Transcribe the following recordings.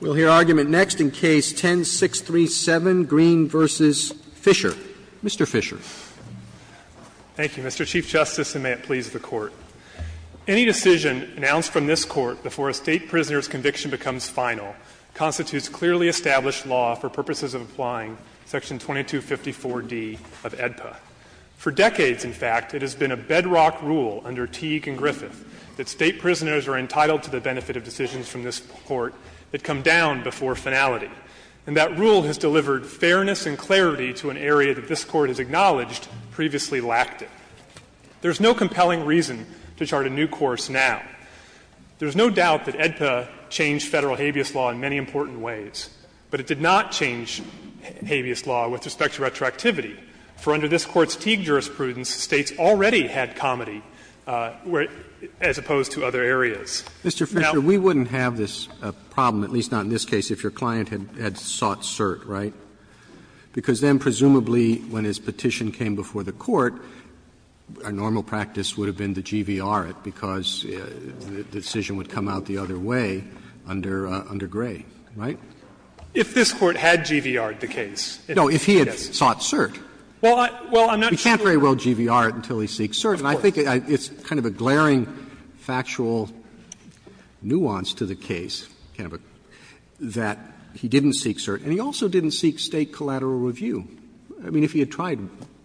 We'll hear argument next in Case 10-637, Greene v. Fisher. Mr. Fisher. Thank you, Mr. Chief Justice, and may it please the Court. Any decision announced from this Court before a State prisoner's conviction becomes final constitutes clearly established law for purposes of applying Section 2254d of AEDPA. For decades, in fact, it has been a bedrock rule under Teague and Griffith that State prisoners are entitled to the benefit of decisions from this Court that come down before finality. And that rule has delivered fairness and clarity to an area that this Court has acknowledged previously lacked it. There is no compelling reason to chart a new course now. There is no doubt that AEDPA changed Federal habeas law in many important ways, but it did not change habeas law with respect to retroactivity, for under this Court's Mr. Fisher, we wouldn't have this problem, at least not in this case, if your client had sought cert, right? Because then presumably when his petition came before the Court, our normal practice would have been to GVR it, because the decision would come out the other way under Gray, right? If this Court had GVR-ed the case. No, if he had sought cert. We can't very well GVR it until he seeks cert, and I think it's kind of a glaring factual nuance to the case, Canova, that he didn't seek cert, and he also didn't seek State collateral review. I mean, if he had tried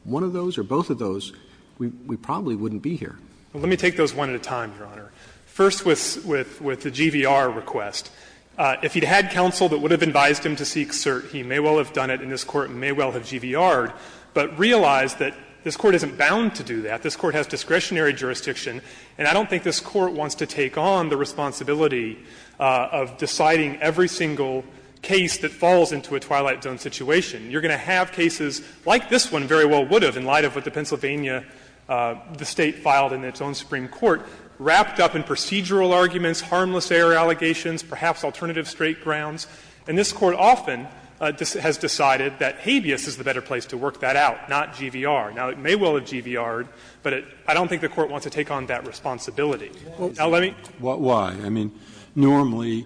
one of those or both of those, we probably wouldn't be here. Fisher, Let me take those one at a time, Your Honor. First with the GVR request. If he'd had counsel that would have advised him to seek cert, he may well have done it in this Court and may well have GVR-ed, but realized that this Court isn't bound to do that. This Court has discretionary jurisdiction, and I don't think this Court wants to take on the responsibility of deciding every single case that falls into a Twilight Zone situation. You're going to have cases like this one very well would have in light of what the Pennsylvania, the State filed in its own Supreme Court, wrapped up in procedural arguments, harmless error allegations, perhaps alternative straight grounds. And this Court often has decided that habeas is the better place to work that out, not GVR. Now, it may well have GVR-ed, but I don't think the Court wants to take on that responsibility. Now, let me. Breyer, Why? I mean, normally,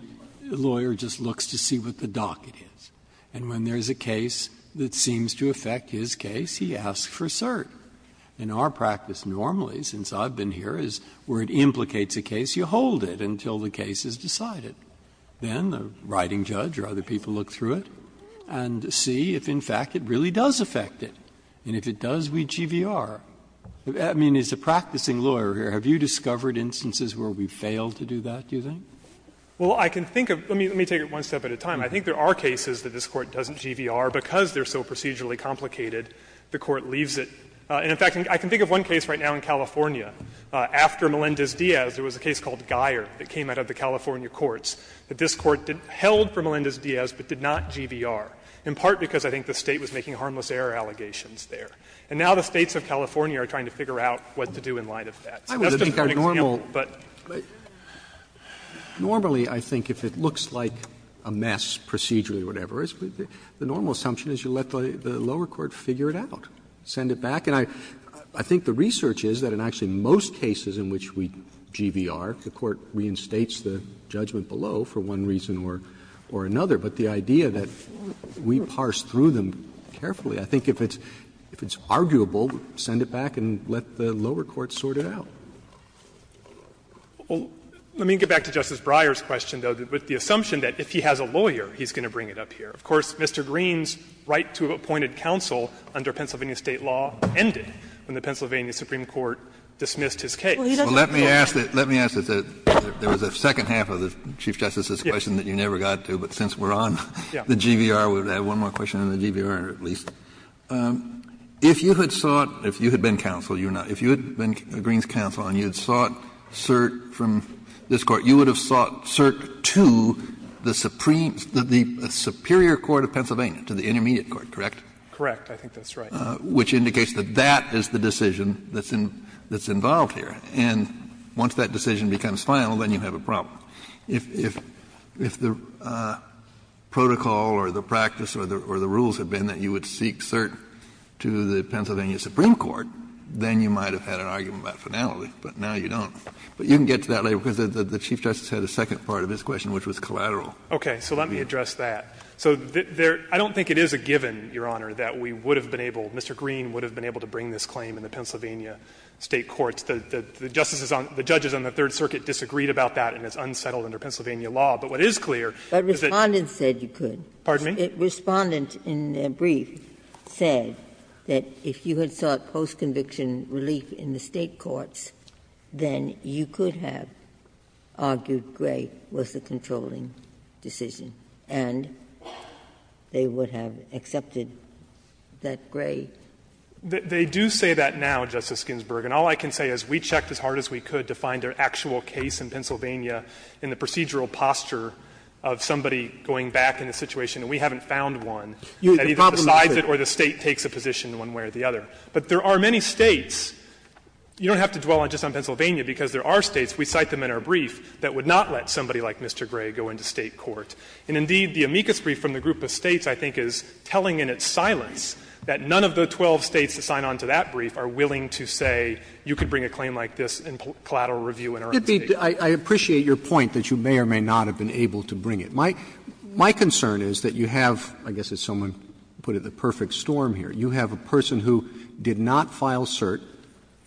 a lawyer just looks to see what the docket is. And when there is a case that seems to affect his case, he asks for cert. In our practice, normally, since I've been here, is where it implicates a case, you hold it until the case is decided. Then the writing judge or other people look through it and see if, in fact, it really does affect it. And if it does, we GVR. I mean, as a practicing lawyer here, have you discovered instances where we fail to do that, do you think? Well, I can think of — let me take it one step at a time. I think there are cases that this Court doesn't GVR because they're so procedurally complicated, the Court leaves it. And, in fact, I can think of one case right now in California. After Melendez-Diaz, there was a case called Guyer that came out of the California courts that this Court held for Melendez-Diaz but did not GVR, in part because I think the State was making harmless error allegations there. And now the States of California are trying to figure out what to do in light of that. So that's just one example. Roberts, but normally, I think, if it looks like a mess procedurally or whatever, the normal assumption is you let the lower court figure it out, send it back. And I think the research is that in actually most cases in which we GVR, the Court reinstates the judgment below for one reason or another. But the idea that we parse through them carefully, I think if it's arguable, send it back and let the lower court sort it out. Fisherman, let me get back to Justice Breyer's question, though, with the assumption that if he has a lawyer, he's going to bring it up here. Of course, Mr. Green's right to appointed counsel under Pennsylvania State law ended when the Pennsylvania Supreme Court dismissed his case. Kennedy, let me ask this. There was a second half of the Chief Justice's question that you never got to, but since we're on the GVR, we'll have one more question on the GVR, at least. If you had sought, if you had been counsel, you're not, if you had been Green's counsel and you had sought cert from this Court, you would have sought cert to the supreme, the superior court of Pennsylvania, to the intermediate court, correct? Correct. I think that's right. Which indicates that that is the decision that's involved here. And once that decision becomes final, then you have a problem. If the protocol or the practice or the rules had been that you would seek cert to the Pennsylvania Supreme Court, then you might have had an argument about finality, but now you don't. But you can get to that later, because the Chief Justice had a second part of his question, which was collateral. Okay. So let me address that. So I don't think it is a given, Your Honor, that we would have been able, Mr. Green would have been able to bring this claim in the Pennsylvania State courts. The justices on, the judges on the Third Circuit disagreed about that and it's unsettled under Pennsylvania law. But what is clear is that you could. But Respondent said you could. Pardon me? Respondent, in their brief, said that if you had sought post-conviction relief in the State courts, then you could have argued Gray was the controlling decision, and they would have accepted that Gray. They do say that now, Justice Ginsburg, and all I can say is we checked as hard as we could to find an actual case in Pennsylvania in the procedural posture of somebody going back in a situation, and we haven't found one that either decides it or the State takes a position one way or the other. But there are many States. You don't have to dwell just on Pennsylvania, because there are States, we cite them in our brief, that would not let somebody like Mr. Gray go into State court. And, indeed, the amicus brief from the group of States, I think, is telling in its silence that none of the 12 States that sign on to that brief are willing to say you could bring a claim like this in collateral review in our own State court. Roberts, I appreciate your point that you may or may not have been able to bring it. My concern is that you have, I guess as someone put it, the perfect storm here. You have a person who did not file cert,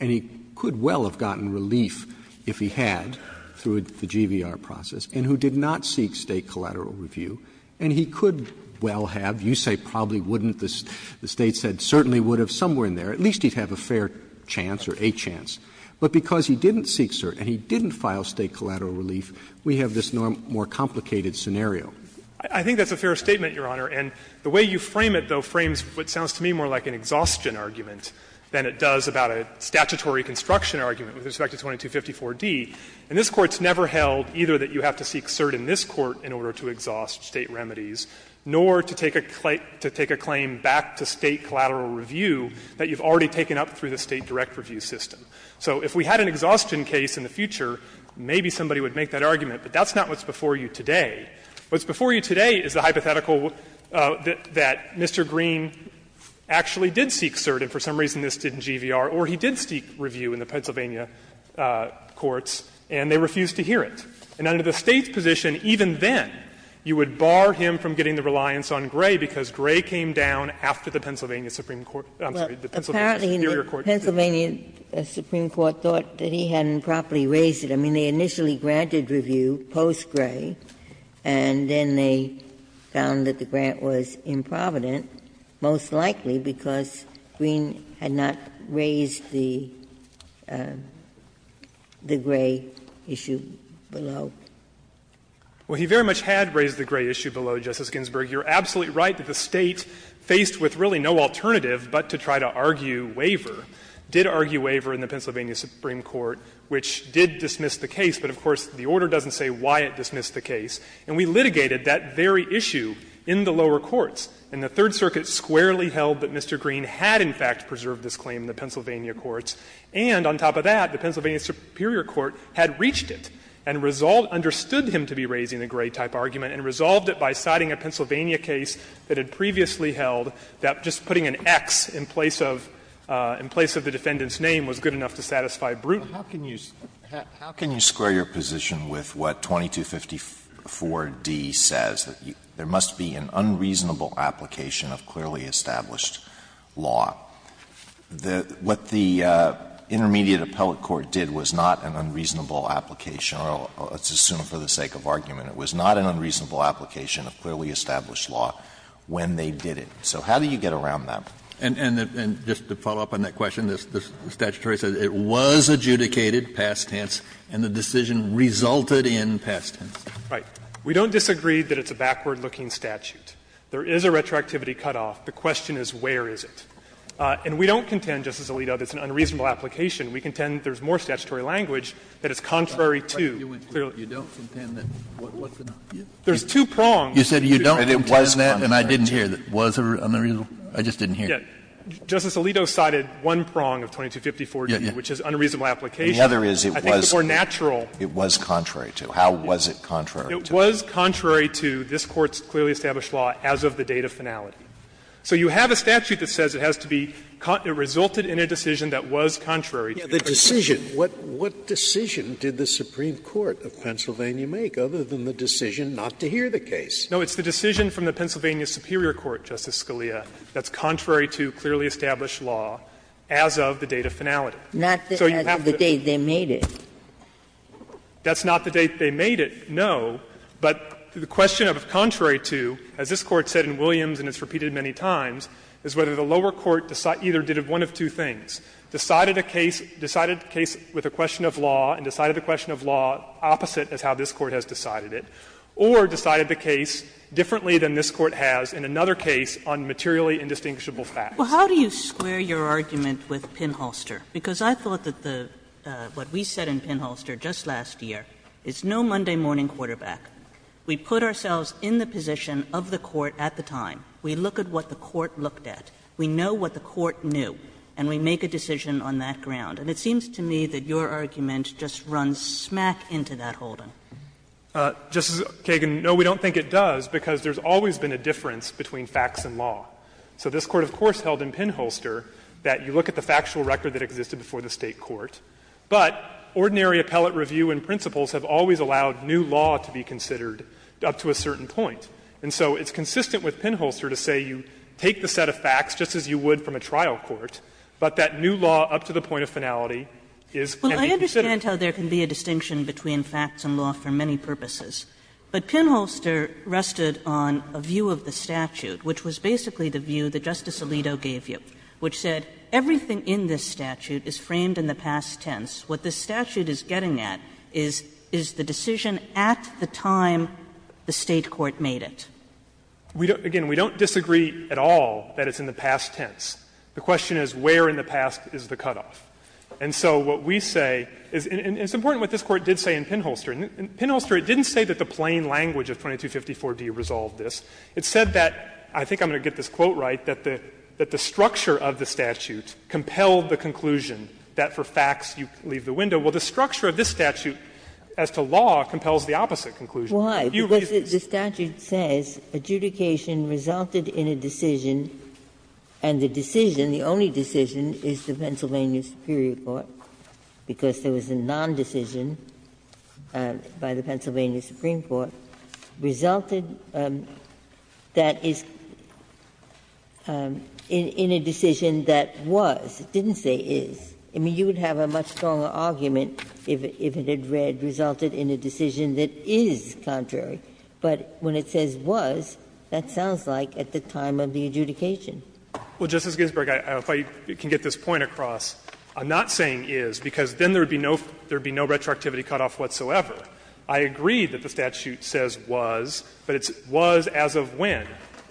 and he could well have gotten relief if he had through the GVR process, and who did not seek State collateral review, and he could well have, you say probably wouldn't, the State said certainly would have, somewhere in there, at least he'd have a fair chance or a chance. But because he didn't seek cert and he didn't file State collateral relief, we have this more complicated scenario. Fisherman, I think that's a fair statement, Your Honor, and the way you frame it, though, frames what sounds to me more like an exhaustion argument than it does about a statutory construction argument with respect to 2254d. And this Court's never held either that you have to seek cert in this Court in order to exhaust State remedies, nor to take a claim back to State collateral review that you've already taken up through the State direct review system. So if we had an exhaustion case in the future, maybe somebody would make that argument. But that's not what's before you today. What's before you today is the hypothetical that Mr. Green actually did seek cert, and for some reason this didn't GVR, or he did seek review in the Pennsylvania courts, and they refused to hear it. And under the State's position, even then, you would bar him from getting the reliance on Gray, because Gray came down after the Pennsylvania Supreme Court — I'm sorry, the Pennsylvania Superior Court. Ginsburg. Apparently, the Pennsylvania Supreme Court thought that he hadn't properly raised it. I mean, they initially granted review post-Gray, and then they found that the grant was improvident, most likely because Green had not raised the Gray issue below. Well, he very much had raised the Gray issue below, Justice Ginsburg. You're absolutely right that the State, faced with really no alternative but to try to argue waiver, did argue waiver in the Pennsylvania Supreme Court, which did dismiss the case. But, of course, the order doesn't say why it dismissed the case. And we litigated that very issue in the lower courts. And the Third Circuit squarely held that Mr. Green had, in fact, preserved this claim in the Pennsylvania courts. And on top of that, the Pennsylvania Superior Court had reached it and resolved — understood him to be raising the Gray-type argument and resolved it by citing a Pennsylvania case that had previously held that just putting an X in place of — in place of the defendant's name was good enough to satisfy Bruton. Alito, how can you square your position with what 2254d says, that there must be an unreasonable application of clearly established law? What the intermediate appellate court did was not an unreasonable application or, let's assume for the sake of argument, it was not an unreasonable application of clearly established law when they did it. So how do you get around that? Kennedy, and just to follow up on that question, the statutory says it was adjudicated past tense and the decision resulted in past tense. Right. We don't disagree that it's a backward-looking statute. There is a retroactivity cutoff. The question is where is it? And we don't contend, Justice Alito, that it's an unreasonable application. We contend there's more statutory language that is contrary to clearly. You don't contend that what the non-punitive? There's two prongs. You said you don't contend that. And I didn't hear. Was there an unreasonable? I just didn't hear. Yeah. Justice Alito cited one prong of 2254, which is unreasonable application. The other is it was. I think the more natural. It was contrary to. How was it contrary to? It was contrary to this Court's clearly established law as of the date of finality. So you have a statute that says it has to be resulted in a decision that was contrary to the decision. Scalia, what decision did the Supreme Court of Pennsylvania make, other than the decision not to hear the case? No, it's the decision from the Pennsylvania Superior Court, Justice Scalia. That's contrary to clearly established law as of the date of finality. Not the date they made it. That's not the date they made it, no. But the question of contrary to, as this Court said in Williams and it's repeated many times, is whether the lower court either did one of two things, decided a case with a question of law and decided the question of law opposite as how this Court has decided it, or decided the case differently than this Court has in another case on materially indistinguishable facts. Well, how do you square your argument with Pinholster? Because I thought that the what we said in Pinholster just last year is no Monday morning quarterback. We put ourselves in the position of the court at the time. We look at what the court looked at. We know what the court knew. And we make a decision on that ground. And it seems to me that your argument just runs smack into that holding. Justice Kagan, no, we don't think it does, because there's always been a difference between facts and law. So this Court, of course, held in Pinholster that you look at the factual record that existed before the State court, but ordinary appellate review and principles have always allowed new law to be considered up to a certain point. And so it's consistent with Pinholster to say you take the set of facts, just as you would from a trial court, but that new law up to the point of finality is going to be considered. Kagan, I understand how there can be a distinction between facts and law for many purposes, but Pinholster rested on a view of the statute, which was basically the view that Justice Alito gave you, which said everything in this statute is framed in the past tense. What this statute is getting at is, is the decision at the time the State court made it. Again, we don't disagree at all that it's in the past tense. The question is where in the past is the cutoff. And so what we say is — and it's important what this Court did say in Pinholster. In Pinholster, it didn't say that the plain language of 2254d resolved this. It said that — I think I'm going to get this quote right — that the structure of the statute compelled the conclusion that for facts you leave the window. Well, the structure of this statute as to law compels the opposite conclusion. If you read the statute, it says adjudication resulted in a decision, and the decision, the only decision, is the Pennsylvania Superior Court, because there was a nondecision by the Pennsylvania Supreme Court, resulted that is in a decision that was, it didn't say is. I mean, you would have a much stronger argument if it had read resulted in a decision that is contrary, but when it says was, that sounds like at the time of the adjudication. Well, Justice Ginsburg, if I can get this point across, I'm not saying is, because then there would be no retroactivity cutoff whatsoever. I agree that the statute says was, but it's was as of when.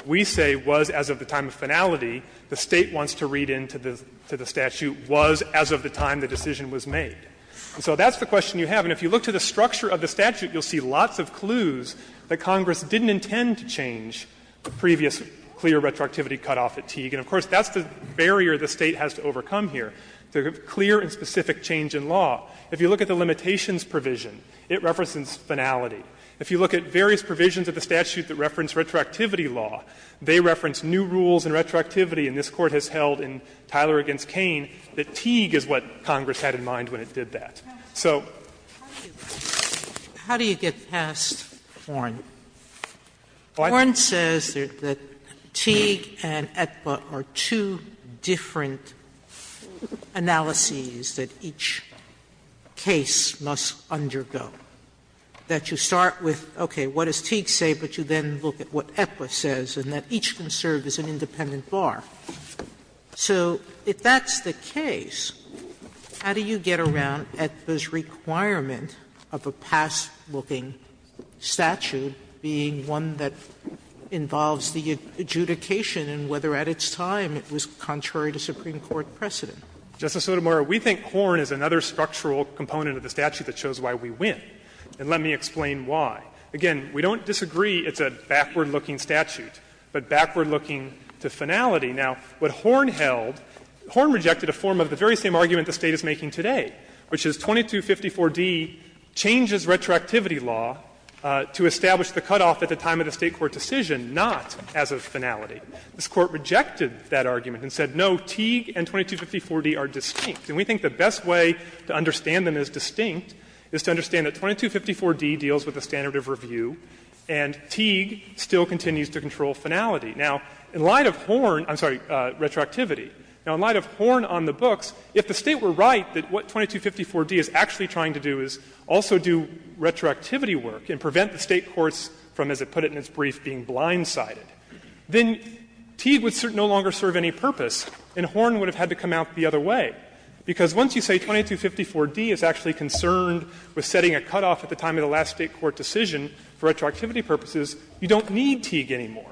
We say was as of the time of finality. The State wants to read into the statute was as of the time the decision was made. So that's the question you have. And if you look to the structure of the statute, you'll see lots of clues that Congress didn't intend to change the previous clear retroactivity cutoff at Teague. And, of course, that's the barrier the State has to overcome here. The clear and specific change in law, if you look at the limitations provision, it references finality. If you look at various provisions of the statute that reference retroactivity law, they reference new rules and retroactivity. And this Court has held in Tyler v. Cain that Teague is what Congress had in mind when it did that. So how do you get past Horne? Horne says that Teague and Aetba are two different. Analyses that each case must undergo, that you start with, okay, what does Teague say, but you then look at what Aetba says, and that each can serve as an independent bar. So if that's the case, how do you get around Aetba's requirement of a past-looking statute being one that involves the adjudication and whether at its time it was contrary to Supreme Court precedent? Fisherman. Justice Sotomayor, we think Horne is another structural component of the statute that shows why we win. And let me explain why. Again, we don't disagree it's a backward-looking statute, but backward-looking to finality. Now, what Horne held, Horne rejected a form of the very same argument the State is making today, which is 2254d changes retroactivity law to establish the cutoff at the time of the State court decision, not as a finality. This Court rejected that argument and said, no, Teague and 2254d are distinct. And we think the best way to understand them as distinct is to understand that 2254d deals with the standard of review and Teague still continues to control finality. Now, in light of Horne — I'm sorry, retroactivity — now, in light of Horne on the books, if the State were right that what 2254d is actually trying to do is also do retroactivity work and prevent the State courts from, as it put it in its brief, being blindsided, then Teague would no longer serve any purpose and Horne would have had to come out the other way, because once you say 2254d is actually concerned with setting a cutoff at the time of the last State court decision for retroactivity purposes, you don't need Teague anymore.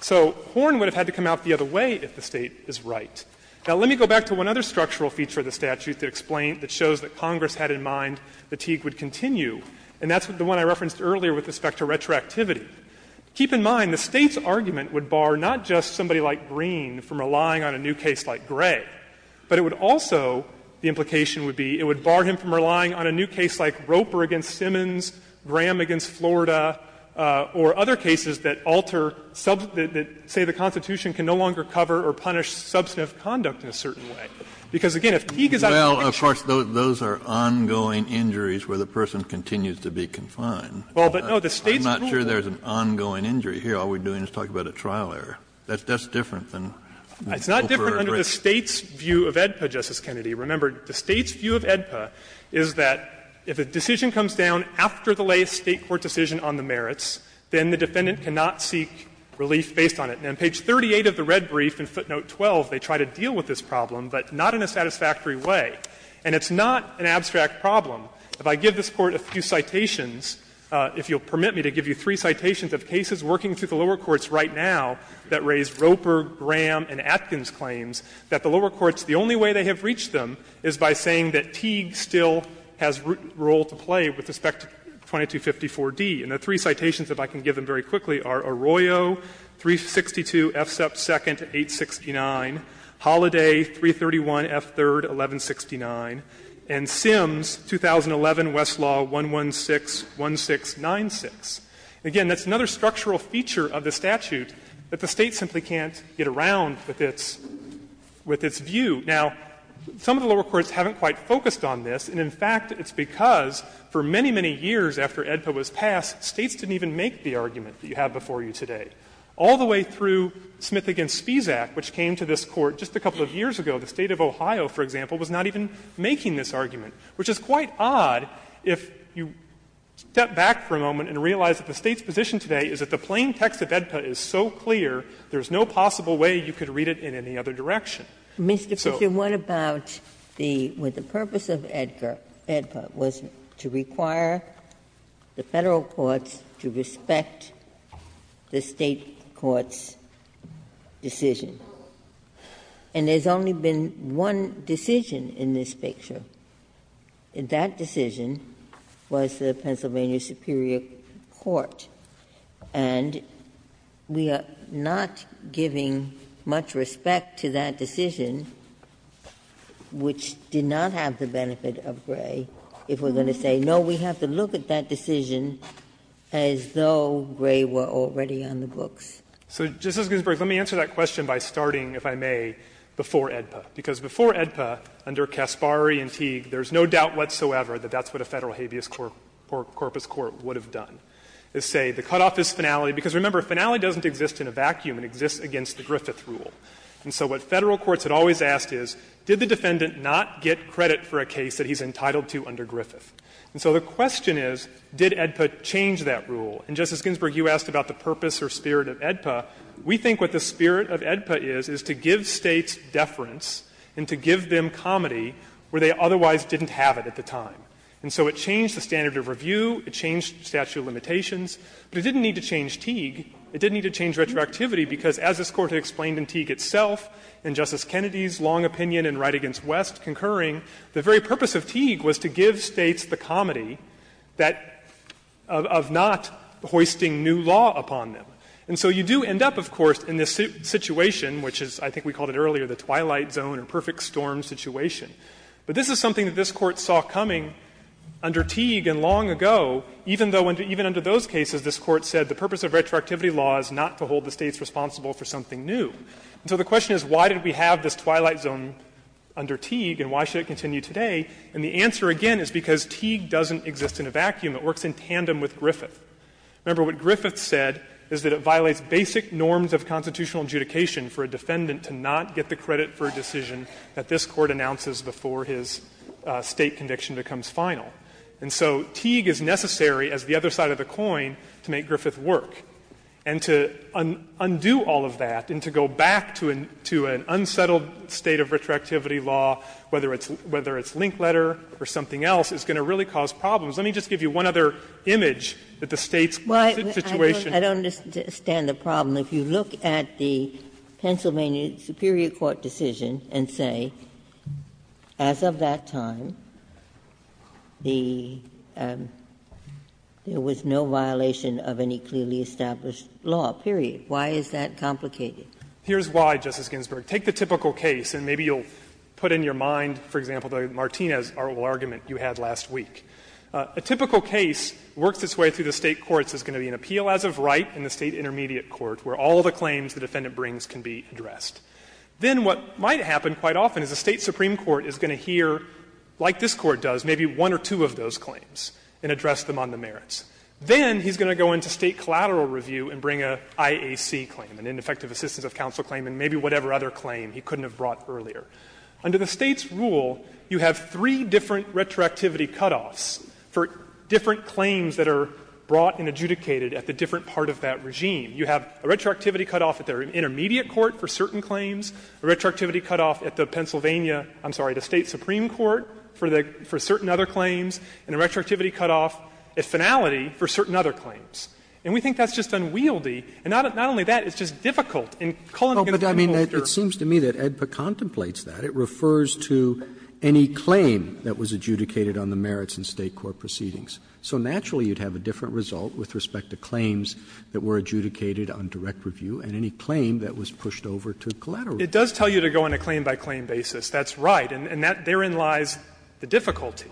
So Horne would have had to come out the other way if the State is right. Now, let me go back to one other structural feature of the statute to explain that shows that Congress had in mind that Teague would continue, and that's the one I referenced earlier with respect to retroactivity. Keep in mind, the State's argument would bar not just somebody like Green from relying on a new case like Gray, but it would also — the implication would be it would bar him from relying on a new case like Roper v. Simmons, Graham v. Florida, or other cases that alter — that say the Constitution can no longer cover or punish substantive conduct in a certain way, because, again, if Teague is out of the picture — Kennedy, of course, those are ongoing injuries where the person continues to be confined. I'm not sure there's an ongoing injury here. All we're doing is talking about a trial error. That's different than Roper v. Gray. Fisherman, it's not different under the State's view of AEDPA, Justice Kennedy. Remember, the State's view of AEDPA is that if a decision comes down after the latest State court decision on the merits, then the defendant cannot seek relief based on it. And on page 38 of the red brief in footnote 12, they try to deal with this problem, but not in a satisfactory way. And it's not an abstract problem. If I give this Court a few citations, if you'll permit me to give you three citations of cases working through the lower courts right now that raise Roper, Graham and Atkins' claims, that the lower courts, the only way they have reached them is by saying that Teague still has a role to play with respect to 2254d. And the three citations, if I can give them very quickly, are Arroyo, 362 F. Sepp 2nd, 869, Holliday, 331 F. 3rd, 1169, and Sims, 2011, Westlaw, 1161696. Again, that's another structural feature of the statute that the State simply can't get around with its view. Now, some of the lower courts haven't quite focused on this, and in fact, it's because for many, many years after AEDPA was passed, States didn't even make the argument that you have before you today. All the way through Smith v. Spisak, which came to this Court just a couple of years ago, the State of Ohio, for example, was not even making this argument, which is quite odd if you step back for a moment and realize that the State's position today is that the plain text of AEDPA is so clear there is no possible way you could read it in any other direction. So what about the purpose of AEDPA was to require the Federal courts to respect the State court's decision. And there's only been one decision in this picture, and that decision was the Pennsylvania Superior Court. And we are not giving much respect to that decision, which did not have the benefit of Gray, if we're going to say, no, we have to look at that decision as though Gray were already on the books. Fisherman. So, Justice Ginsburg, let me answer that question by starting, if I may, before AEDPA. Because before AEDPA, under Caspari and Teague, there's no doubt whatsoever that that's what a Federal habeas corpus court would have done, is say, the cutoff is finality, because remember, finality doesn't exist in a vacuum. It exists against the Griffith rule. And so what Federal courts had always asked is, did the defendant not get credit for a case that he's entitled to under Griffith? And so the question is, did AEDPA change that rule? And, Justice Ginsburg, you asked about the purpose or spirit of AEDPA. We think what the spirit of AEDPA is, is to give States deference and to give them comedy where they otherwise didn't have it at the time. And so it changed the standard of review. It changed statute of limitations. But it didn't need to change Teague. It didn't need to change retroactivity, because as this Court had explained in Teague itself, and Justice Kennedy's long opinion in Wright v. West concurring, the very purpose of Teague was to give States the comedy that of not having a statute hoisting new law upon them. And so you do end up, of course, in this situation, which is, I think we called it earlier, the twilight zone or perfect storm situation. But this is something that this Court saw coming under Teague and long ago, even though even under those cases this Court said the purpose of retroactivity law is not to hold the States responsible for something new. And so the question is, why did we have this twilight zone under Teague and why should it continue today? And the answer, again, is because Teague doesn't exist in a vacuum. It works in tandem with Griffith. Remember, what Griffith said is that it violates basic norms of constitutional adjudication for a defendant to not get the credit for a decision that this Court announces before his State conviction becomes final. And so Teague is necessary as the other side of the coin to make Griffith work. And to undo all of that and to go back to an unsettled state of retroactivity law, whether it's Linkletter or something else, is going to really cause problems. Let me just give you one other image that the States' situation. Ginsburg. I don't understand the problem. If you look at the Pennsylvania superior court decision and say, as of that time, the --"there was no violation of any clearly established law," period, why is that complicated? Here's why, Justice Ginsburg. Take the typical case, and maybe you'll put in your mind, for example, the Martinez argument you had last week. A typical case works its way through the State courts. There's going to be an appeal as of right in the State intermediate court where all of the claims the defendant brings can be addressed. Then what might happen quite often is the State supreme court is going to hear, like this Court does, maybe one or two of those claims and address them on the merits. Then he's going to go into State collateral review and bring an IAC claim, an ineffective assistance of counsel claim, and maybe whatever other claim he couldn't have brought earlier. Under the State's rule, you have three different retroactivity cutoffs for different claims that are brought and adjudicated at the different part of that regime. You have a retroactivity cutoff at the intermediate court for certain claims, a retroactivity cutoff at the Pennsylvania — I'm sorry, the State supreme court for certain other claims, and a retroactivity cutoff at finality for certain other claims. And we think that's just unwieldy. And not only that, it's just difficult. And Cullin, again, if you want to go after her. It's not that the statute contemplates that. It refers to any claim that was adjudicated on the merits in State court proceedings. So naturally, you'd have a different result with respect to claims that were adjudicated on direct review and any claim that was pushed over to collateral review. Fisher It does tell you to go on a claim-by-claim basis. That's right. And that — therein lies the difficulty.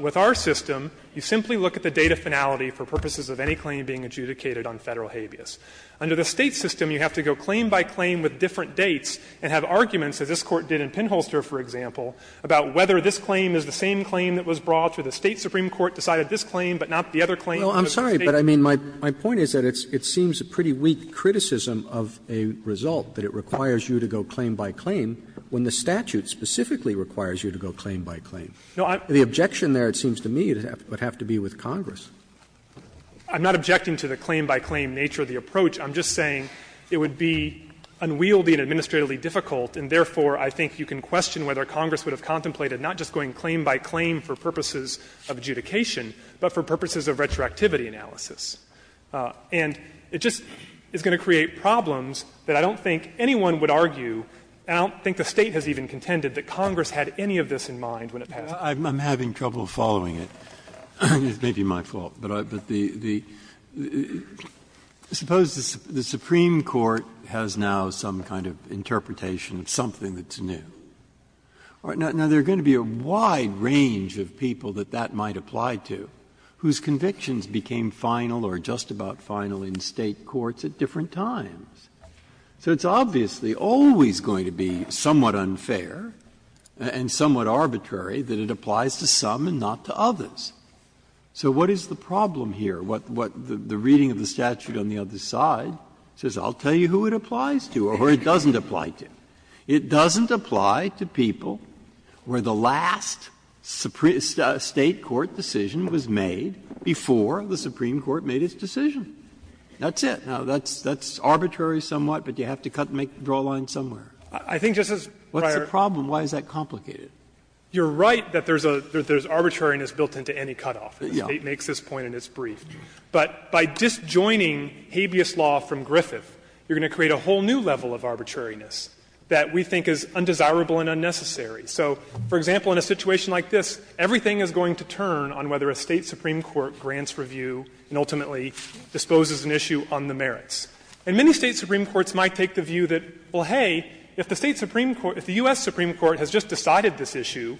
With our system, you simply look at the date of finality for purposes of any claim being adjudicated on Federal habeas. Under the State system, you have to go claim-by-claim with different dates and have arguments, as this Court did in Pinholster, for example, about whether this claim is the same claim that was brought, or the State supreme court decided this claim, but not the other claim. Roberts' Well, I'm sorry, but I mean, my point is that it seems a pretty weak criticism of a result, that it requires you to go claim-by-claim when the statute specifically requires you to go claim-by-claim. The objection there, it seems to me, would have to be with Congress. Fisher I'm not objecting to the claim-by-claim nature of the approach. I'm just saying it would be unwieldy and administratively difficult, and therefore I think you can question whether Congress would have contemplated not just going claim-by-claim for purposes of adjudication, but for purposes of retroactivity analysis. And it just is going to create problems that I don't think anyone would argue, and I don't think the State has even contended, that Congress had any of this in mind when it passed it. Breyer I'm having trouble following it. It may be my fault, but the the the, suppose the Supreme Court has now some kind of interpretation of something that's new. Now, there are going to be a wide range of people that that might apply to, whose convictions became final or just about final in State courts at different times. So it's obviously always going to be somewhat unfair and somewhat arbitrary that it applies to some and not to others. So what is the problem here? What the reading of the statute on the other side says, I'll tell you who it applies to or who it doesn't apply to. It doesn't apply to people where the last Supreme State court decision was made before the Supreme Court made its decision. That's it. Now, that's arbitrary somewhat, but you have to cut and make a draw line somewhere. Fisher I think, Justice Breyer. Breyer What's the problem? Why is that complicated? Fisher You're right that there's a there's arbitrariness built into any cutoff. The State makes this point and it's brief. But by disjoining habeas law from Griffith, you're going to create a whole new level of arbitrariness that we think is undesirable and unnecessary. So, for example, in a situation like this, everything is going to turn on whether a State supreme court grants review and ultimately disposes an issue on the merits. And many State supreme courts might take the view that, well, hey, if the State supreme court has just decided this issue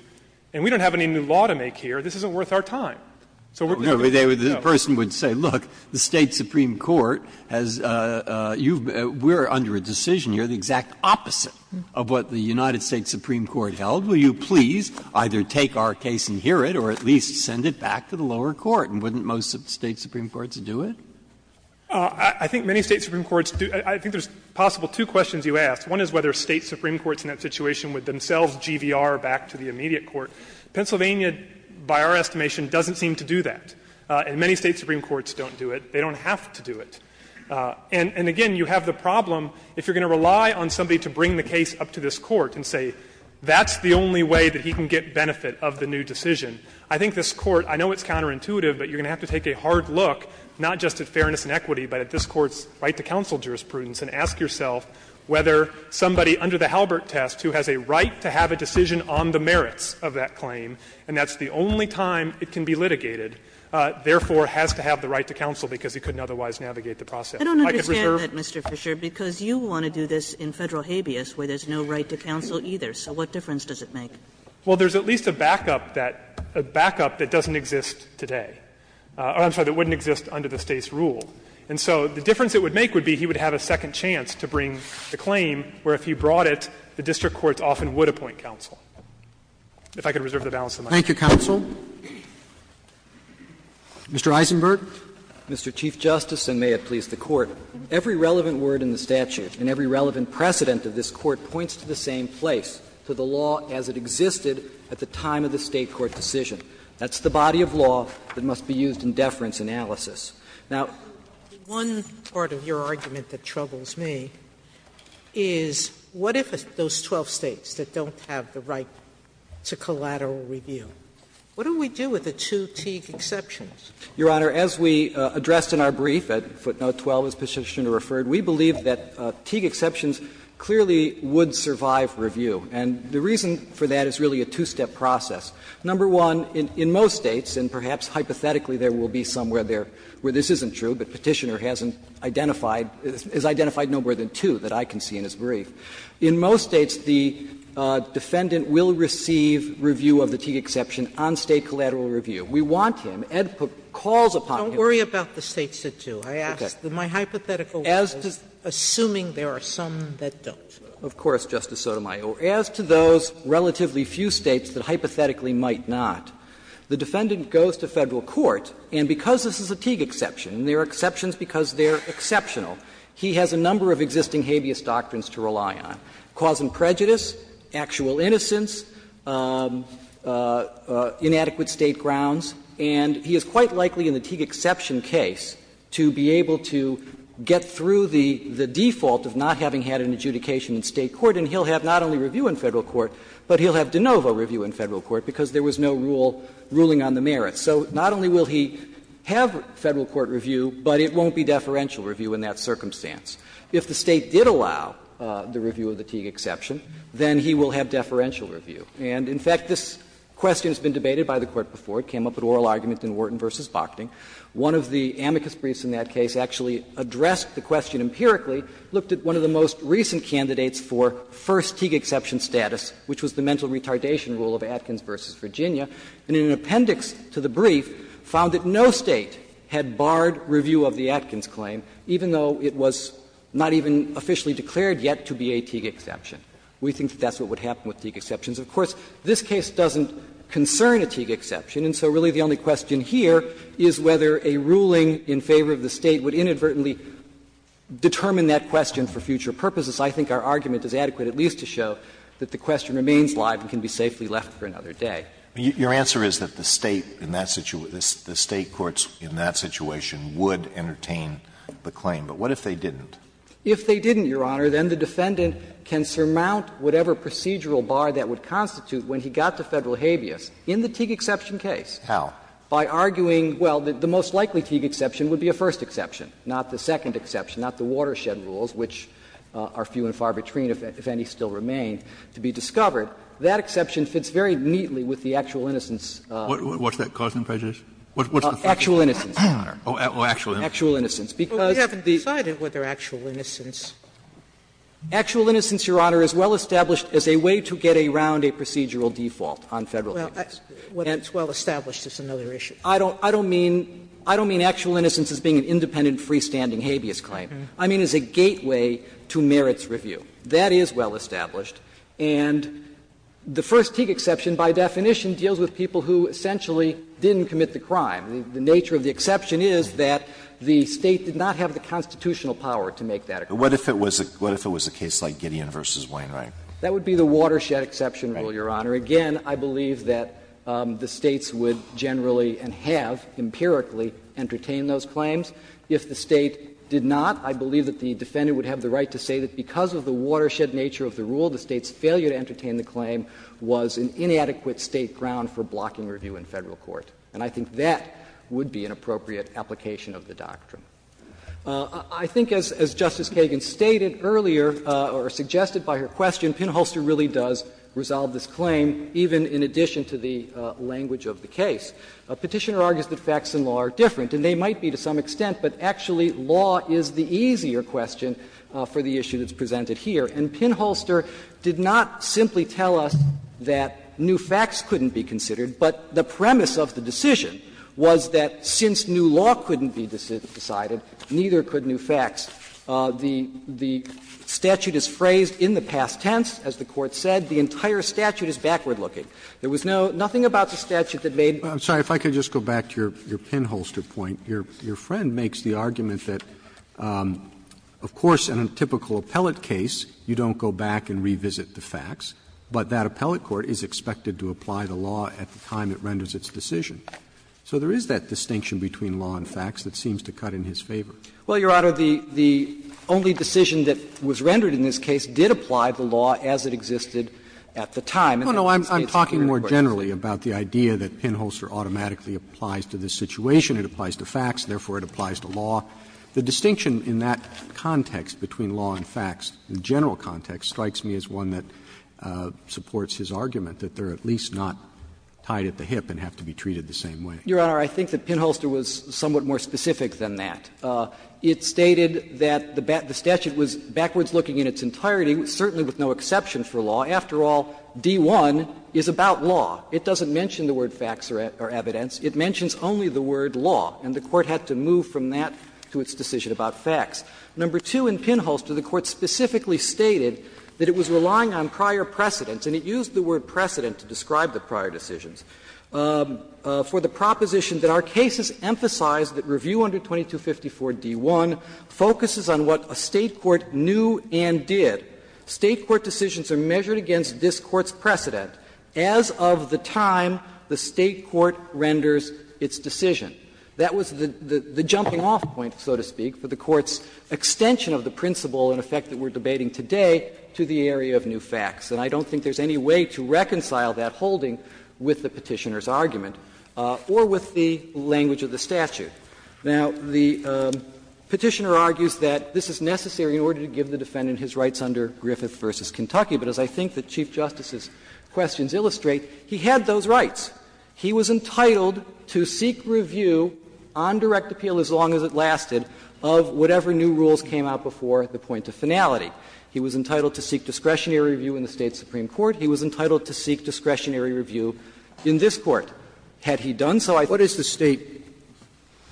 and we don't have any new law to make here, this isn't worth our time. So we're going to go. Breyer No, but the person would say, look, the State supreme court has you've been we're under a decision. You're the exact opposite of what the United States supreme court held. Will you please either take our case and hear it or at least send it back to the lower court? And wouldn't most State supreme courts do it? Fisher I think many State supreme courts do. I think there's possible two questions you asked. One is whether State supreme courts in that situation would themselves GVR back to the immediate court. Pennsylvania, by our estimation, doesn't seem to do that. And many State supreme courts don't do it. They don't have to do it. And again, you have the problem, if you're going to rely on somebody to bring the case up to this Court and say that's the only way that he can get benefit of the new decision, I think this Court, I know it's counterintuitive, but you're going to have to take a hard look, not just at fairness and equity, but at this Court's right to counsel jurisprudence and ask yourself whether somebody under the Halbert test who has a right to have a decision on the merits of that claim, and that's the only time it can be litigated, therefore has to have the right to counsel because he couldn't otherwise navigate the process. Kagan I don't understand that, Mr. Fisher, because you want to do this in Federal habeas where there's no right to counsel either. So what difference does it make? Fisher Well, there's at least a backup that doesn't exist today. I'm sorry, that wouldn't exist under the State's rule. And so the difference it would make would be he would have a second chance to bring the claim where if he brought it, the district courts often would appoint counsel. If I could reserve the balance of my time. Roberts Thank you, counsel. Mr. Eisenberg. Eisenberg Mr. Chief Justice, and may it please the Court. Every relevant word in the statute and every relevant precedent of this Court points to the same place, to the law as it existed at the time of the State court decision. That's the body of law that must be used in deference analysis. Now, Sotomayor One part of your argument that troubles me is what if those 12 States that don't have the right to collateral review, what do we do with the two Teague exceptions? Eisenberg Your Honor, as we addressed in our brief, footnote 12 as Petitioner referred, we believe that Teague exceptions clearly would survive review. And the reason for that is really a two-step process. Number one, in most States, and perhaps hypothetically there will be somewhere there where this isn't true, but Petitioner hasn't identified, has identified no more than two that I can see in his brief, in most States the defendant will receive review of the Teague exception on State collateral review. We want him, Edput calls upon him. Sotomayor Don't worry about the States that do. I asked, my hypothetical was assuming there are some that don't. Eisenberg Of course, Justice Sotomayor. As to those relatively few States that hypothetically might not, the defendant goes to Federal court, and because this is a Teague exception, and there are exceptions because they are exceptional, he has a number of existing habeas doctrines to rely on, cause and prejudice, actual innocence, inadequate State grounds, and he is quite likely in the Teague exception case to be able to get through the default of not having had an adjudication in State court, and he will have not only review in Federal court, but he will have de novo review in Federal court because there was no rule ruling on the merits. So not only will he have Federal court review, but it won't be deferential review in that circumstance. If the State did allow the review of the Teague exception, then he will have deferential review. And in fact, this question has been debated by the Court before. It came up at oral argument in Wharton v. Bockting. One of the amicus briefs in that case actually addressed the question empirically, looked at one of the most recent candidates for first Teague exception status, which was the mental retardation rule of Atkins v. Virginia, and in an appendix to the brief found that no State had barred review of the Atkins claim, even though it was not even officially declared yet to be a Teague exception. We think that that's what would happen with Teague exceptions. Of course, this case doesn't concern a Teague exception, and so really the only question here is whether a ruling in favor of the State would inadvertently determine that question for future purposes. I think our argument is adequate at least to show that the question remains live and can be safely left for another day. Alitoso, your answer is that the State in that situation, the State courts in that situation would entertain the claim, but what if they didn't? If they didn't, Your Honor, then the defendant can surmount whatever procedural bar that would constitute when he got to Federal habeas in the Teague exception case. How? By arguing, well, the most likely Teague exception would be a first exception, not the second exception, not the watershed rules, which are few and far between, if any still remain, to be discovered. That exception fits very neatly with the actual innocence. Kennedy, what's that, cause and prejudice? What's the fact that they're not? Actual innocence, Your Honor. Oh, actual innocence. Actual innocence, because the Well, we haven't decided whether actual innocence. Actual innocence, Your Honor, is well established as a way to get around a procedural default on Federal habeas. Well, that's well established as another issue. I don't mean actual innocence as being an independent, freestanding habeas claim. I mean as a gateway to merits review. That is well established. And the first Teague exception, by definition, deals with people who essentially didn't commit the crime. The nature of the exception is that the State did not have the constitutional power to make that a crime. But what if it was a case like Gideon v. Wainwright? That would be the watershed exception rule, Your Honor. Again, I believe that the States would generally and have empirically entertained those claims. If the State did not, I believe that the defendant would have the right to say that because of the watershed nature of the rule, the State's failure to entertain the claim was an inadequate State ground for blocking review in Federal court. And I think that would be an appropriate application of the doctrine. I think as Justice Kagan stated earlier, or suggested by her question, Pinholster really does resolve this claim, even in addition to the language of the case. Petitioner argues that facts in law are different, and they might be to some extent, but actually law is the easier question for the issue that's presented here. And Pinholster did not simply tell us that new facts couldn't be considered, but the premise of the decision was that since new law couldn't be decided, neither could new facts. The statute is phrased in the past tense, as the Court said. The entire statute is backward-looking. There was nothing about the statute that made it backward-looking. Roberts, I'm sorry, if I could just go back to your Pinholster point. Your friend makes the argument that, of course, in a typical appellate case, you don't go back and revisit the facts, but that appellate court is expected to apply the law at the time it renders its decision. So there is that distinction between law and facts that seems to cut in his favor. Well, Your Honor, the only decision that was rendered in this case did apply the law as it existed at the time. And in this case, it's clear, of course, that it didn't. Roberts, I'm talking more generally about the idea that Pinholster automatically applies to this situation. It applies to facts, therefore it applies to law. The distinction in that context between law and facts, the general context, strikes me as one that supports his argument, that they are at least not tied at the hip and have to be treated the same way. Your Honor, I think that Pinholster was somewhat more specific than that. It stated that the statute was backwards looking in its entirety, certainly with no exception for law. After all, D.1. is about law. It doesn't mention the word facts or evidence. It mentions only the word law, and the Court had to move from that to its decision about facts. Number two, in Pinholster, the Court specifically stated that it was relying on prior precedents, and it used the word precedent to describe the prior decisions, for the focuses on what a State court knew and did. State court decisions are measured against this Court's precedent as of the time the State court renders its decision. That was the jumping-off point, so to speak, for the Court's extension of the principle and effect that we're debating today to the area of new facts. And I don't think there's any way to reconcile that holding with the Petitioner's argument or with the language of the statute. Now, the Petitioner argues that this is necessary in order to give the defendant his rights under Griffith v. Kentucky, but as I think the Chief Justice's questions illustrate, he had those rights. He was entitled to seek review on direct appeal as long as it lasted of whatever new rules came out before the point of finality. He was entitled to seek discretionary review in the State supreme court. He was entitled to seek discretionary review in this Court. Roberts, it's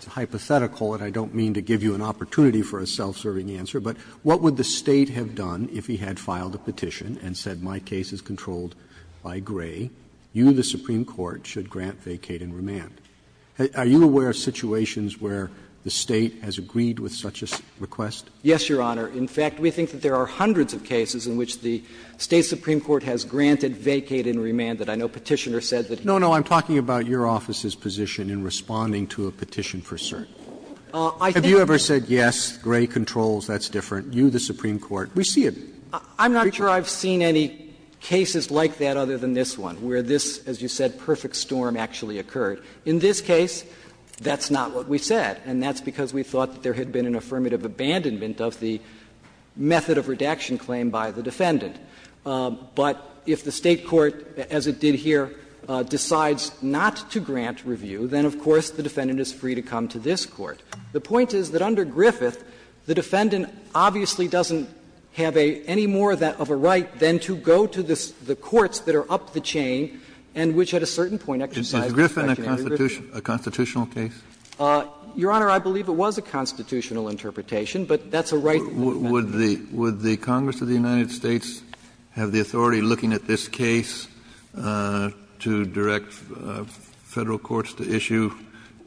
hypothetical, and I don't mean to give you an opportunity for a self-serving answer, but what would the State have done if he had filed a petition and said, my case is controlled by Gray, you, the supreme court, should grant, vacate and remand? Are you aware of situations where the State has agreed with such a request? Yes, Your Honor. In fact, we think that there are hundreds of cases in which the State supreme court has granted, vacated and remanded. I know Petitioner said that he would. No, no, I'm talking about your office's position in responding to a petition for cert. Have you ever said, yes, Gray controls, that's different, you, the supreme court? We see it. I'm not sure I've seen any cases like that other than this one, where this, as you said, perfect storm actually occurred. In this case, that's not what we said, and that's because we thought that there had been an affirmative abandonment of the method of redaction claim by the defendant. But if the State court, as it did here, decides not to grant review, then, of course, the defendant is free to come to this court. The point is that under Griffith, the defendant obviously doesn't have any more of a right than to go to the courts that are up the chain and which at a certain point exercise the section under Griffith. Kennedy, a constitutional case? Your Honor, I believe it was a constitutional interpretation, but that's a right that the defendant has. Kennedy, would the Congress of the United States have the authority looking at this case to direct Federal courts to issue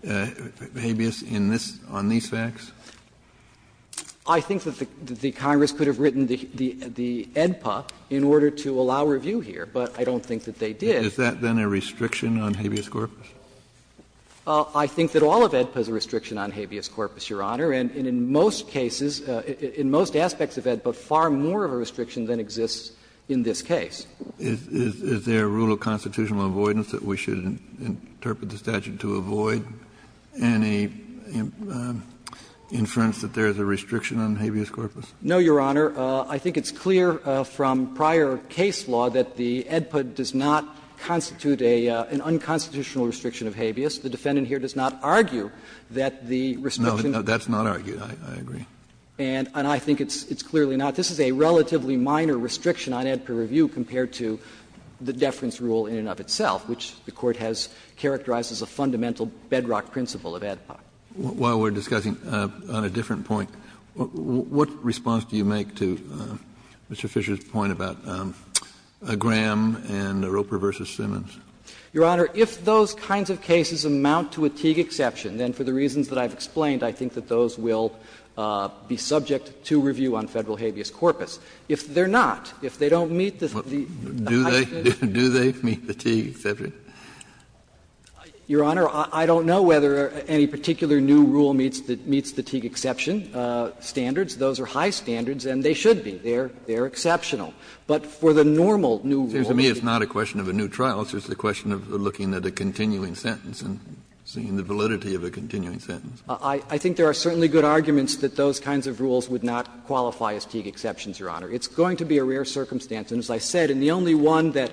habeas in this, on these facts? I think that the Congress could have written the AEDPA in order to allow review here, but I don't think that they did. Is that, then, a restriction on habeas corpus? I think that all of AEDPA is a restriction on habeas corpus, Your Honor. And in most cases, in most aspects of AEDPA, far more of a restriction than exists in this case. Is there a rule of constitutional avoidance that we should interpret the statute to avoid and a inference that there is a restriction on habeas corpus? No, Your Honor. I think it's clear from prior case law that the AEDPA does not constitute an unconstitutional restriction of habeas. of habeas corpus. That's not argued, I agree. And I think it's clearly not. This is a relatively minor restriction on AEDPA review compared to the deference rule in and of itself, which the Court has characterized as a fundamental bedrock principle of AEDPA. While we're discussing on a different point, what response do you make to Mr. Fisher's point about Graham and Roper v. Simmons? Your Honor, if those kinds of cases amount to a Teague exception, then for the reasons that I've explained, I think that those will be subject to review on Federal habeas corpus. If they're not, if they don't meet the high standards. Do they meet the Teague exception? Your Honor, I don't know whether any particular new rule meets the Teague exception standards. Those are high standards and they should be. They're exceptional. But for the normal new rule, it's not a question of a new trial. It's just a question of looking at a continuing sentence and seeing the validity of a continuing sentence. I think there are certainly good arguments that those kinds of rules would not qualify as Teague exceptions, Your Honor. It's going to be a rare circumstance, and as I said, and the only one that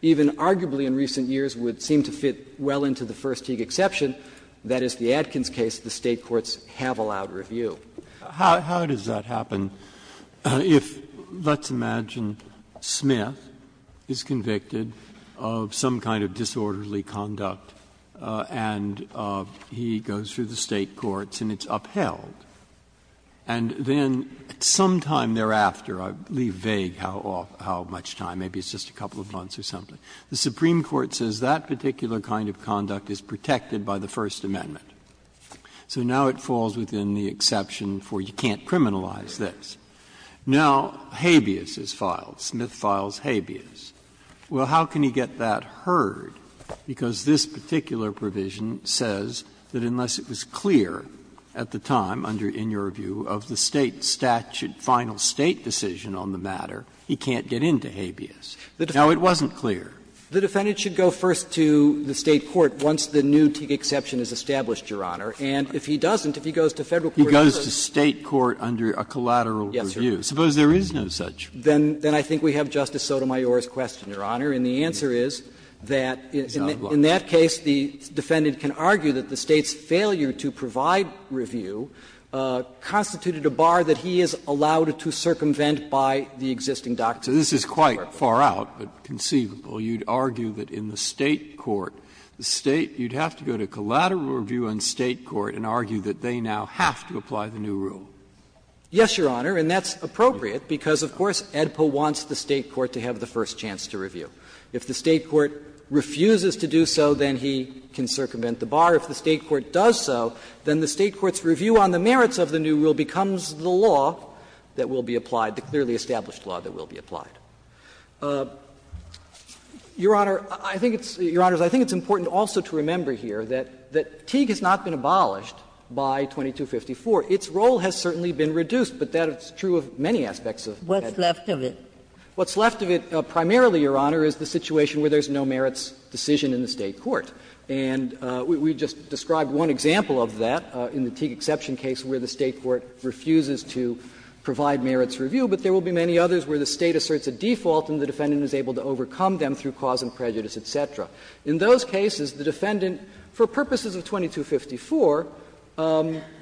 even arguably in recent years would seem to fit well into the first Teague exception, that is the Adkins case, the State courts have allowed review. How does that happen if, let's imagine, Smith is convicted of some kind of disorderly conduct and he goes through the State courts and it's upheld, and then sometime thereafter, I leave vague how much time, maybe it's just a couple of months or something, the Supreme Court says that particular kind of conduct is protected by the First Amendment, so now it falls within the exception for you can't criminalize this. Now, habeas is filed. Smith files habeas. Well, how can he get that heard? Because this particular provision says that unless it was clear at the time under in your review of the State statute, final State decision on the matter, he can't get into habeas. Now, it wasn't clear. The defendant should go first to the State court once the new Teague exception is established, Your Honor, and if he doesn't, if he goes to Federal court first. Breyer, what about if he goes to State court under a collateral review? Suppose there is no such. Then I think we have Justice Sotomayor's question, Your Honor, and the answer is that in that case, the defendant can argue that the State's failure to provide review constituted a bar that he is allowed to circumvent by the existing doctrine. So this is quite far out, but conceivable. You would argue that in the State court, the State, you would have to go to collateral review on State court and argue that they now have to apply the new rule. Yes, Your Honor, and that's appropriate, because of course, AEDPA wants the State court to have the first chance to review. If the State court refuses to do so, then he can circumvent the bar. If the State court does so, then the State court's review on the merits of the new rule becomes the law that will be applied, the clearly established law that will be applied. Your Honor, I think it's important also to remember here that in the State court the fatigue has not been abolished by 2254. Its role has certainly been reduced, but that is true of many aspects of AEDPA. Ginsburg. What's left of it? What's left of it primarily, Your Honor, is the situation where there is no merits decision in the State court. And we just described one example of that in the Teague exception case where the State court refuses to provide merits review, but there will be many others where the State asserts a default and the defendant is able to overcome them through cause and prejudice, et cetera. In those cases, the defendant, for purposes of 2254,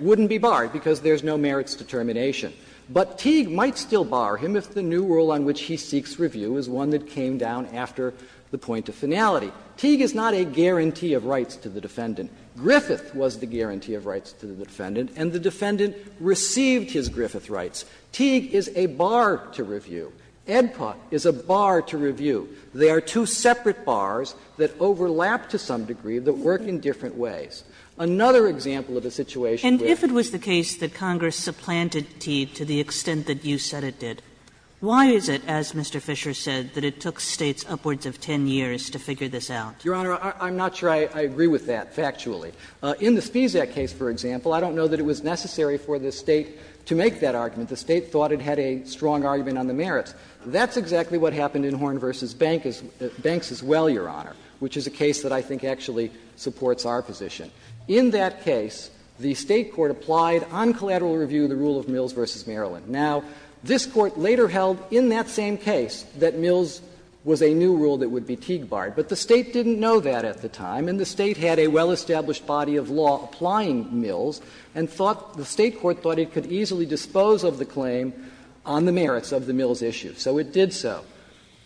wouldn't be barred because there is no merits determination. But Teague might still bar him if the new rule on which he seeks review is one that came down after the point of finality. Teague is not a guarantee of rights to the defendant. Griffith was the guarantee of rights to the defendant, and the defendant received his Griffith rights. Teague is a bar to review. AEDPA is a bar to review. They are two separate bars that overlap to some degree, but work in different ways. Another example of a situation where Kagan And if it was the case that Congress supplanted Teague to the extent that you said it did, why is it, as Mr. Fisher said, that it took States upwards of 10 years to figure this out? Verrilli, Your Honor, I'm not sure I agree with that factually. In the Spesak case, for example, I don't know that it was necessary for the State to make that argument. The State thought it had a strong argument on the merits. That's exactly what happened in Horn v. Banks as well, Your Honor, which is a case that I think actually supports our position. In that case, the State court applied on collateral review the rule of Mills v. Maryland. Now, this Court later held in that same case that Mills was a new rule that would be Teague barred, but the State didn't know that at the time, and the State had a well-established body of law applying Mills, and thought the State court thought it could easily dispose of the claim on the merits of the Mills issue, so it did so.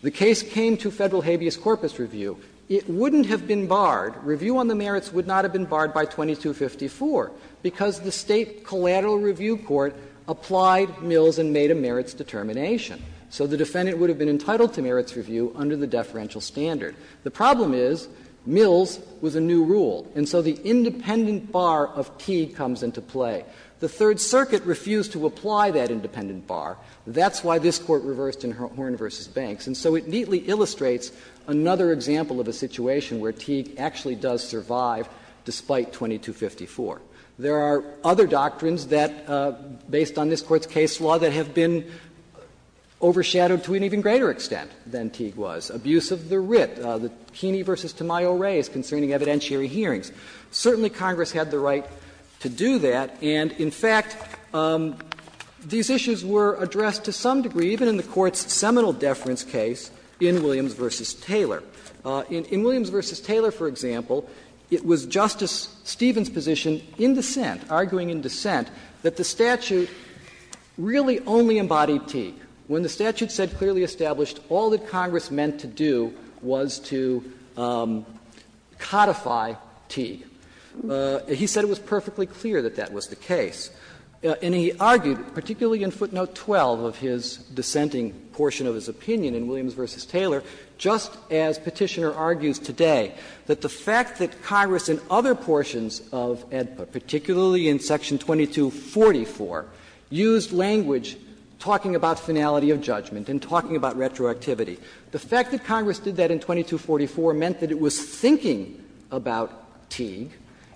The case came to Federal habeas corpus review. It wouldn't have been barred. Review on the merits would not have been barred by 2254, because the State collateral review court applied Mills and made a merits determination. So the defendant would have been entitled to merits review under the deferential standard. The problem is Mills was a new rule, and so the independent bar of Teague comes into play. The Third Circuit refused to apply that independent bar. That's why this Court reversed in Horne v. Banks. And so it neatly illustrates another example of a situation where Teague actually does survive despite 2254. There are other doctrines that, based on this Court's case law, that have been overshadowed to an even greater extent than Teague was. Abuse of the writ, the Heaney v. Tamayo race concerning evidentiary hearings. Certainly Congress had the right to do that, and in fact, these issues were addressed to some degree, even in the Court's seminal deference case in Williams v. Taylor. In Williams v. Taylor, for example, it was Justice Stevens' position in dissent, arguing in dissent, that the statute really only embodied Teague. When the statute said clearly established all that Congress meant to do was to codify Teague, he said it was perfectly clear that that was the case. And he argued, particularly in footnote 12 of his dissenting portion of his opinion in Williams v. Taylor, just as Petitioner argues today, that the fact that Congress in other portions of AEDPA, particularly in section 2244, used language talking about finality of judgment and talking about retroactivity. The fact that Congress did that in 2244 meant that it was thinking about Teague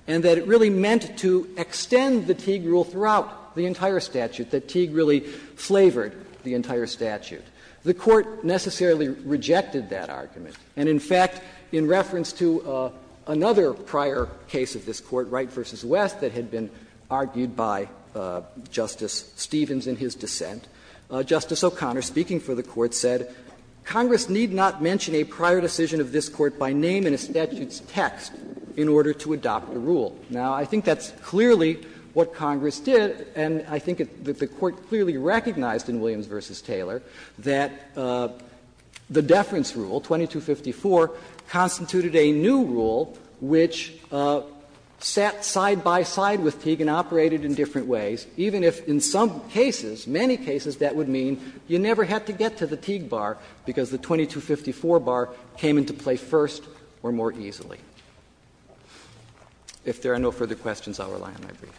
and that it really meant to extend the Teague rule throughout the entire statute, that Teague really flavored the entire statute. The Court necessarily rejected that argument. And in fact, in reference to another prior case of this Court, Wright v. West, that had been argued by Justice Stevens in his dissent, Justice O'Connor, speaking for the Court, said, Congress need not mention a prior decision of this Court by name in a statute's text in order to adopt a rule. Now, I think that's clearly what Congress did, and I think that the Court clearly recognized in Williams v. Taylor that the deference rule, 2254, constituted a new rule which sat side by side with Teague and operated in different ways, even if in some cases, many cases, that would mean you never had to get to the Teague bar because the 2254 bar came into play first or more easily. If there are no further questions, I will rely on my brief.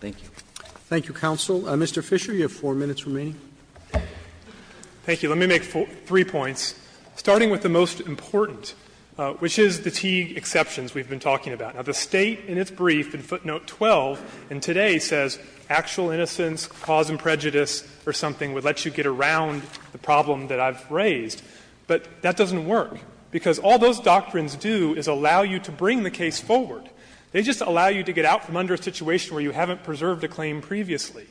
Thank you. Roberts. Thank you, counsel. Mr. Fisher, you have 4 minutes remaining. Fisher. Thank you. Let me make three points, starting with the most important, which is the Teague exceptions we have been talking about. Now, the State, in its brief, in footnote 12, in today, says actual innocence, cause and prejudice, or something, would let you get around the problem that I've raised. But that doesn't work, because all those doctrines do is allow you to bring the case forward. They just allow you to get out from under a situation where you haven't preserved a claim previously.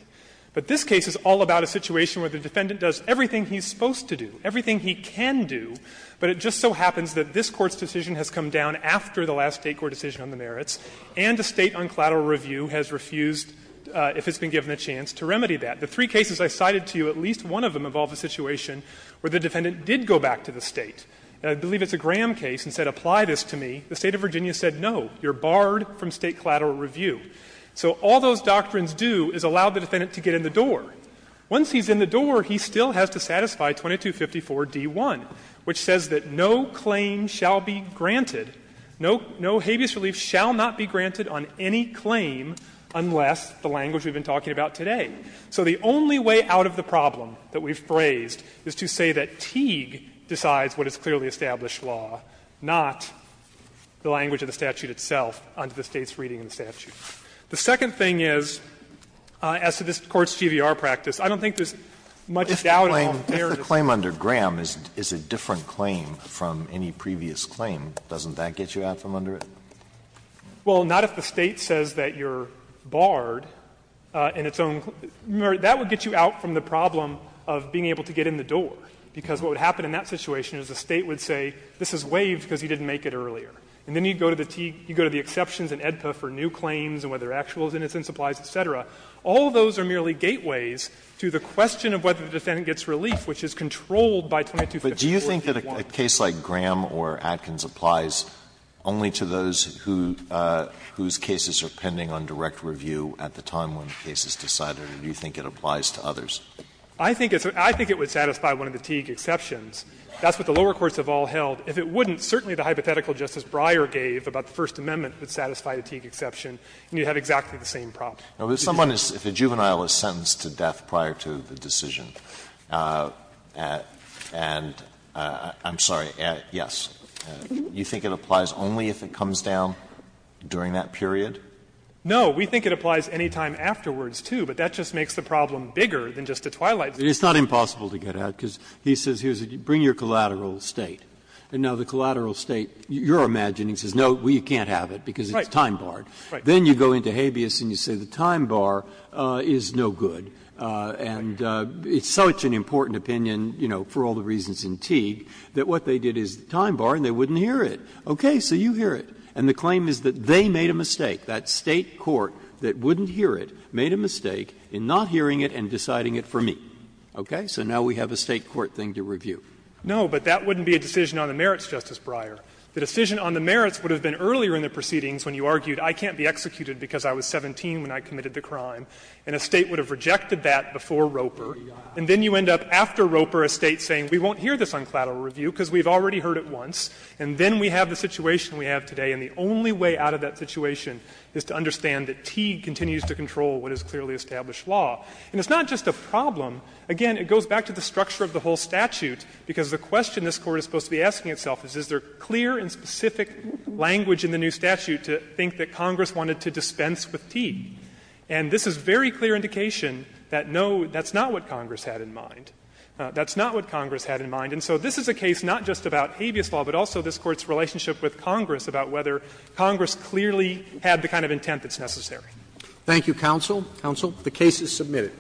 But this case is all about a situation where the defendant does everything he's supposed to do, everything he can do, but it just so happens that this Court's decision on the merits and the State on collateral review has refused, if it's been given a chance, to remedy that. The three cases I cited to you, at least one of them involved a situation where the defendant did go back to the State. I believe it's a Graham case and said, apply this to me. The State of Virginia said, no, you're barred from State collateral review. So all those doctrines do is allow the defendant to get in the door. Once he's in the door, he still has to satisfy 2254d1, which says that no claim shall be granted, no habeas relief shall not be granted on any claim unless the language we've been talking about today. So the only way out of the problem that we've phrased is to say that Teague decides what is clearly established law, not the language of the statute itself under the State's reading of the statute. The second thing is, as to this Court's GVR practice, I don't think there's much doubt on the merits. Alitoso, if a claim under Graham is a different claim from any previous claim, doesn't that get you out from under it? Fisherman, Well, not if the State says that you're barred in its own claim. That would get you out from the problem of being able to get in the door, because what would happen in that situation is the State would say, this is waived because he didn't make it earlier. And then you go to the Teague, you go to the exceptions in AEDPA for new claims and whether actual innocence applies, et cetera. All those are merely gateways to the question of whether the defendant gets relief, which is controlled by 2254. Alitoso, but do you think that a case like Graham or Atkins applies only to those whose cases are pending on direct review at the time when the case is decided, or do you think it applies to others? Fisherman, I think it would satisfy one of the Teague exceptions. That's what the lower courts have all held. If it wouldn't, certainly the hypothetical Justice Breyer gave about the First Amendment would satisfy the Teague exception, and you'd have exactly the same problem. Alitoso, if a juvenile is sentenced to death prior to the decision, and I'm sorry, yes, you think it applies only if it comes down during that period? Fisherman, no. We think it applies any time afterwards, too, but that just makes the problem bigger than just a twilight zone. Breyer, it's not impossible to get out, because he says here, bring your collateral State. And now the collateral State, you're imagining, says, no, we can't have it because it's time barred. Fisherman, right. Breyer, then you go into habeas and you say the time bar is no good, and it's such an important opinion, you know, for all the reasons in Teague, that what they did is the time bar and they wouldn't hear it. Okay, so you hear it. And the claim is that they made a mistake, that State court that wouldn't hear it made a mistake in not hearing it and deciding it for me. So now we have a State court thing to review. Fisherman, no, but that wouldn't be a decision on the merits, Justice Breyer. The decision on the merits would have been earlier in the proceedings when you argued I can't be executed because I was 17 when I committed the crime, and a State would have rejected that before Roper. And then you end up, after Roper, a State saying, we won't hear this on collateral review because we've already heard it once, and then we have the situation we have today, and the only way out of that situation is to understand that Teague continues to control what is clearly established law. And it's not just a problem. Again, it goes back to the structure of the whole statute, because the question this Court is supposed to be asking itself is, is there clear and specific language in the new statute to think that Congress wanted to dispense with Teague? And this is very clear indication that no, that's not what Congress had in mind. That's not what Congress had in mind. And so this is a case not just about habeas law, but also this Court's relationship with Congress about whether Congress clearly had the kind of intent that's necessary. Roberts. Thank you, counsel. Counsel, the case is submitted.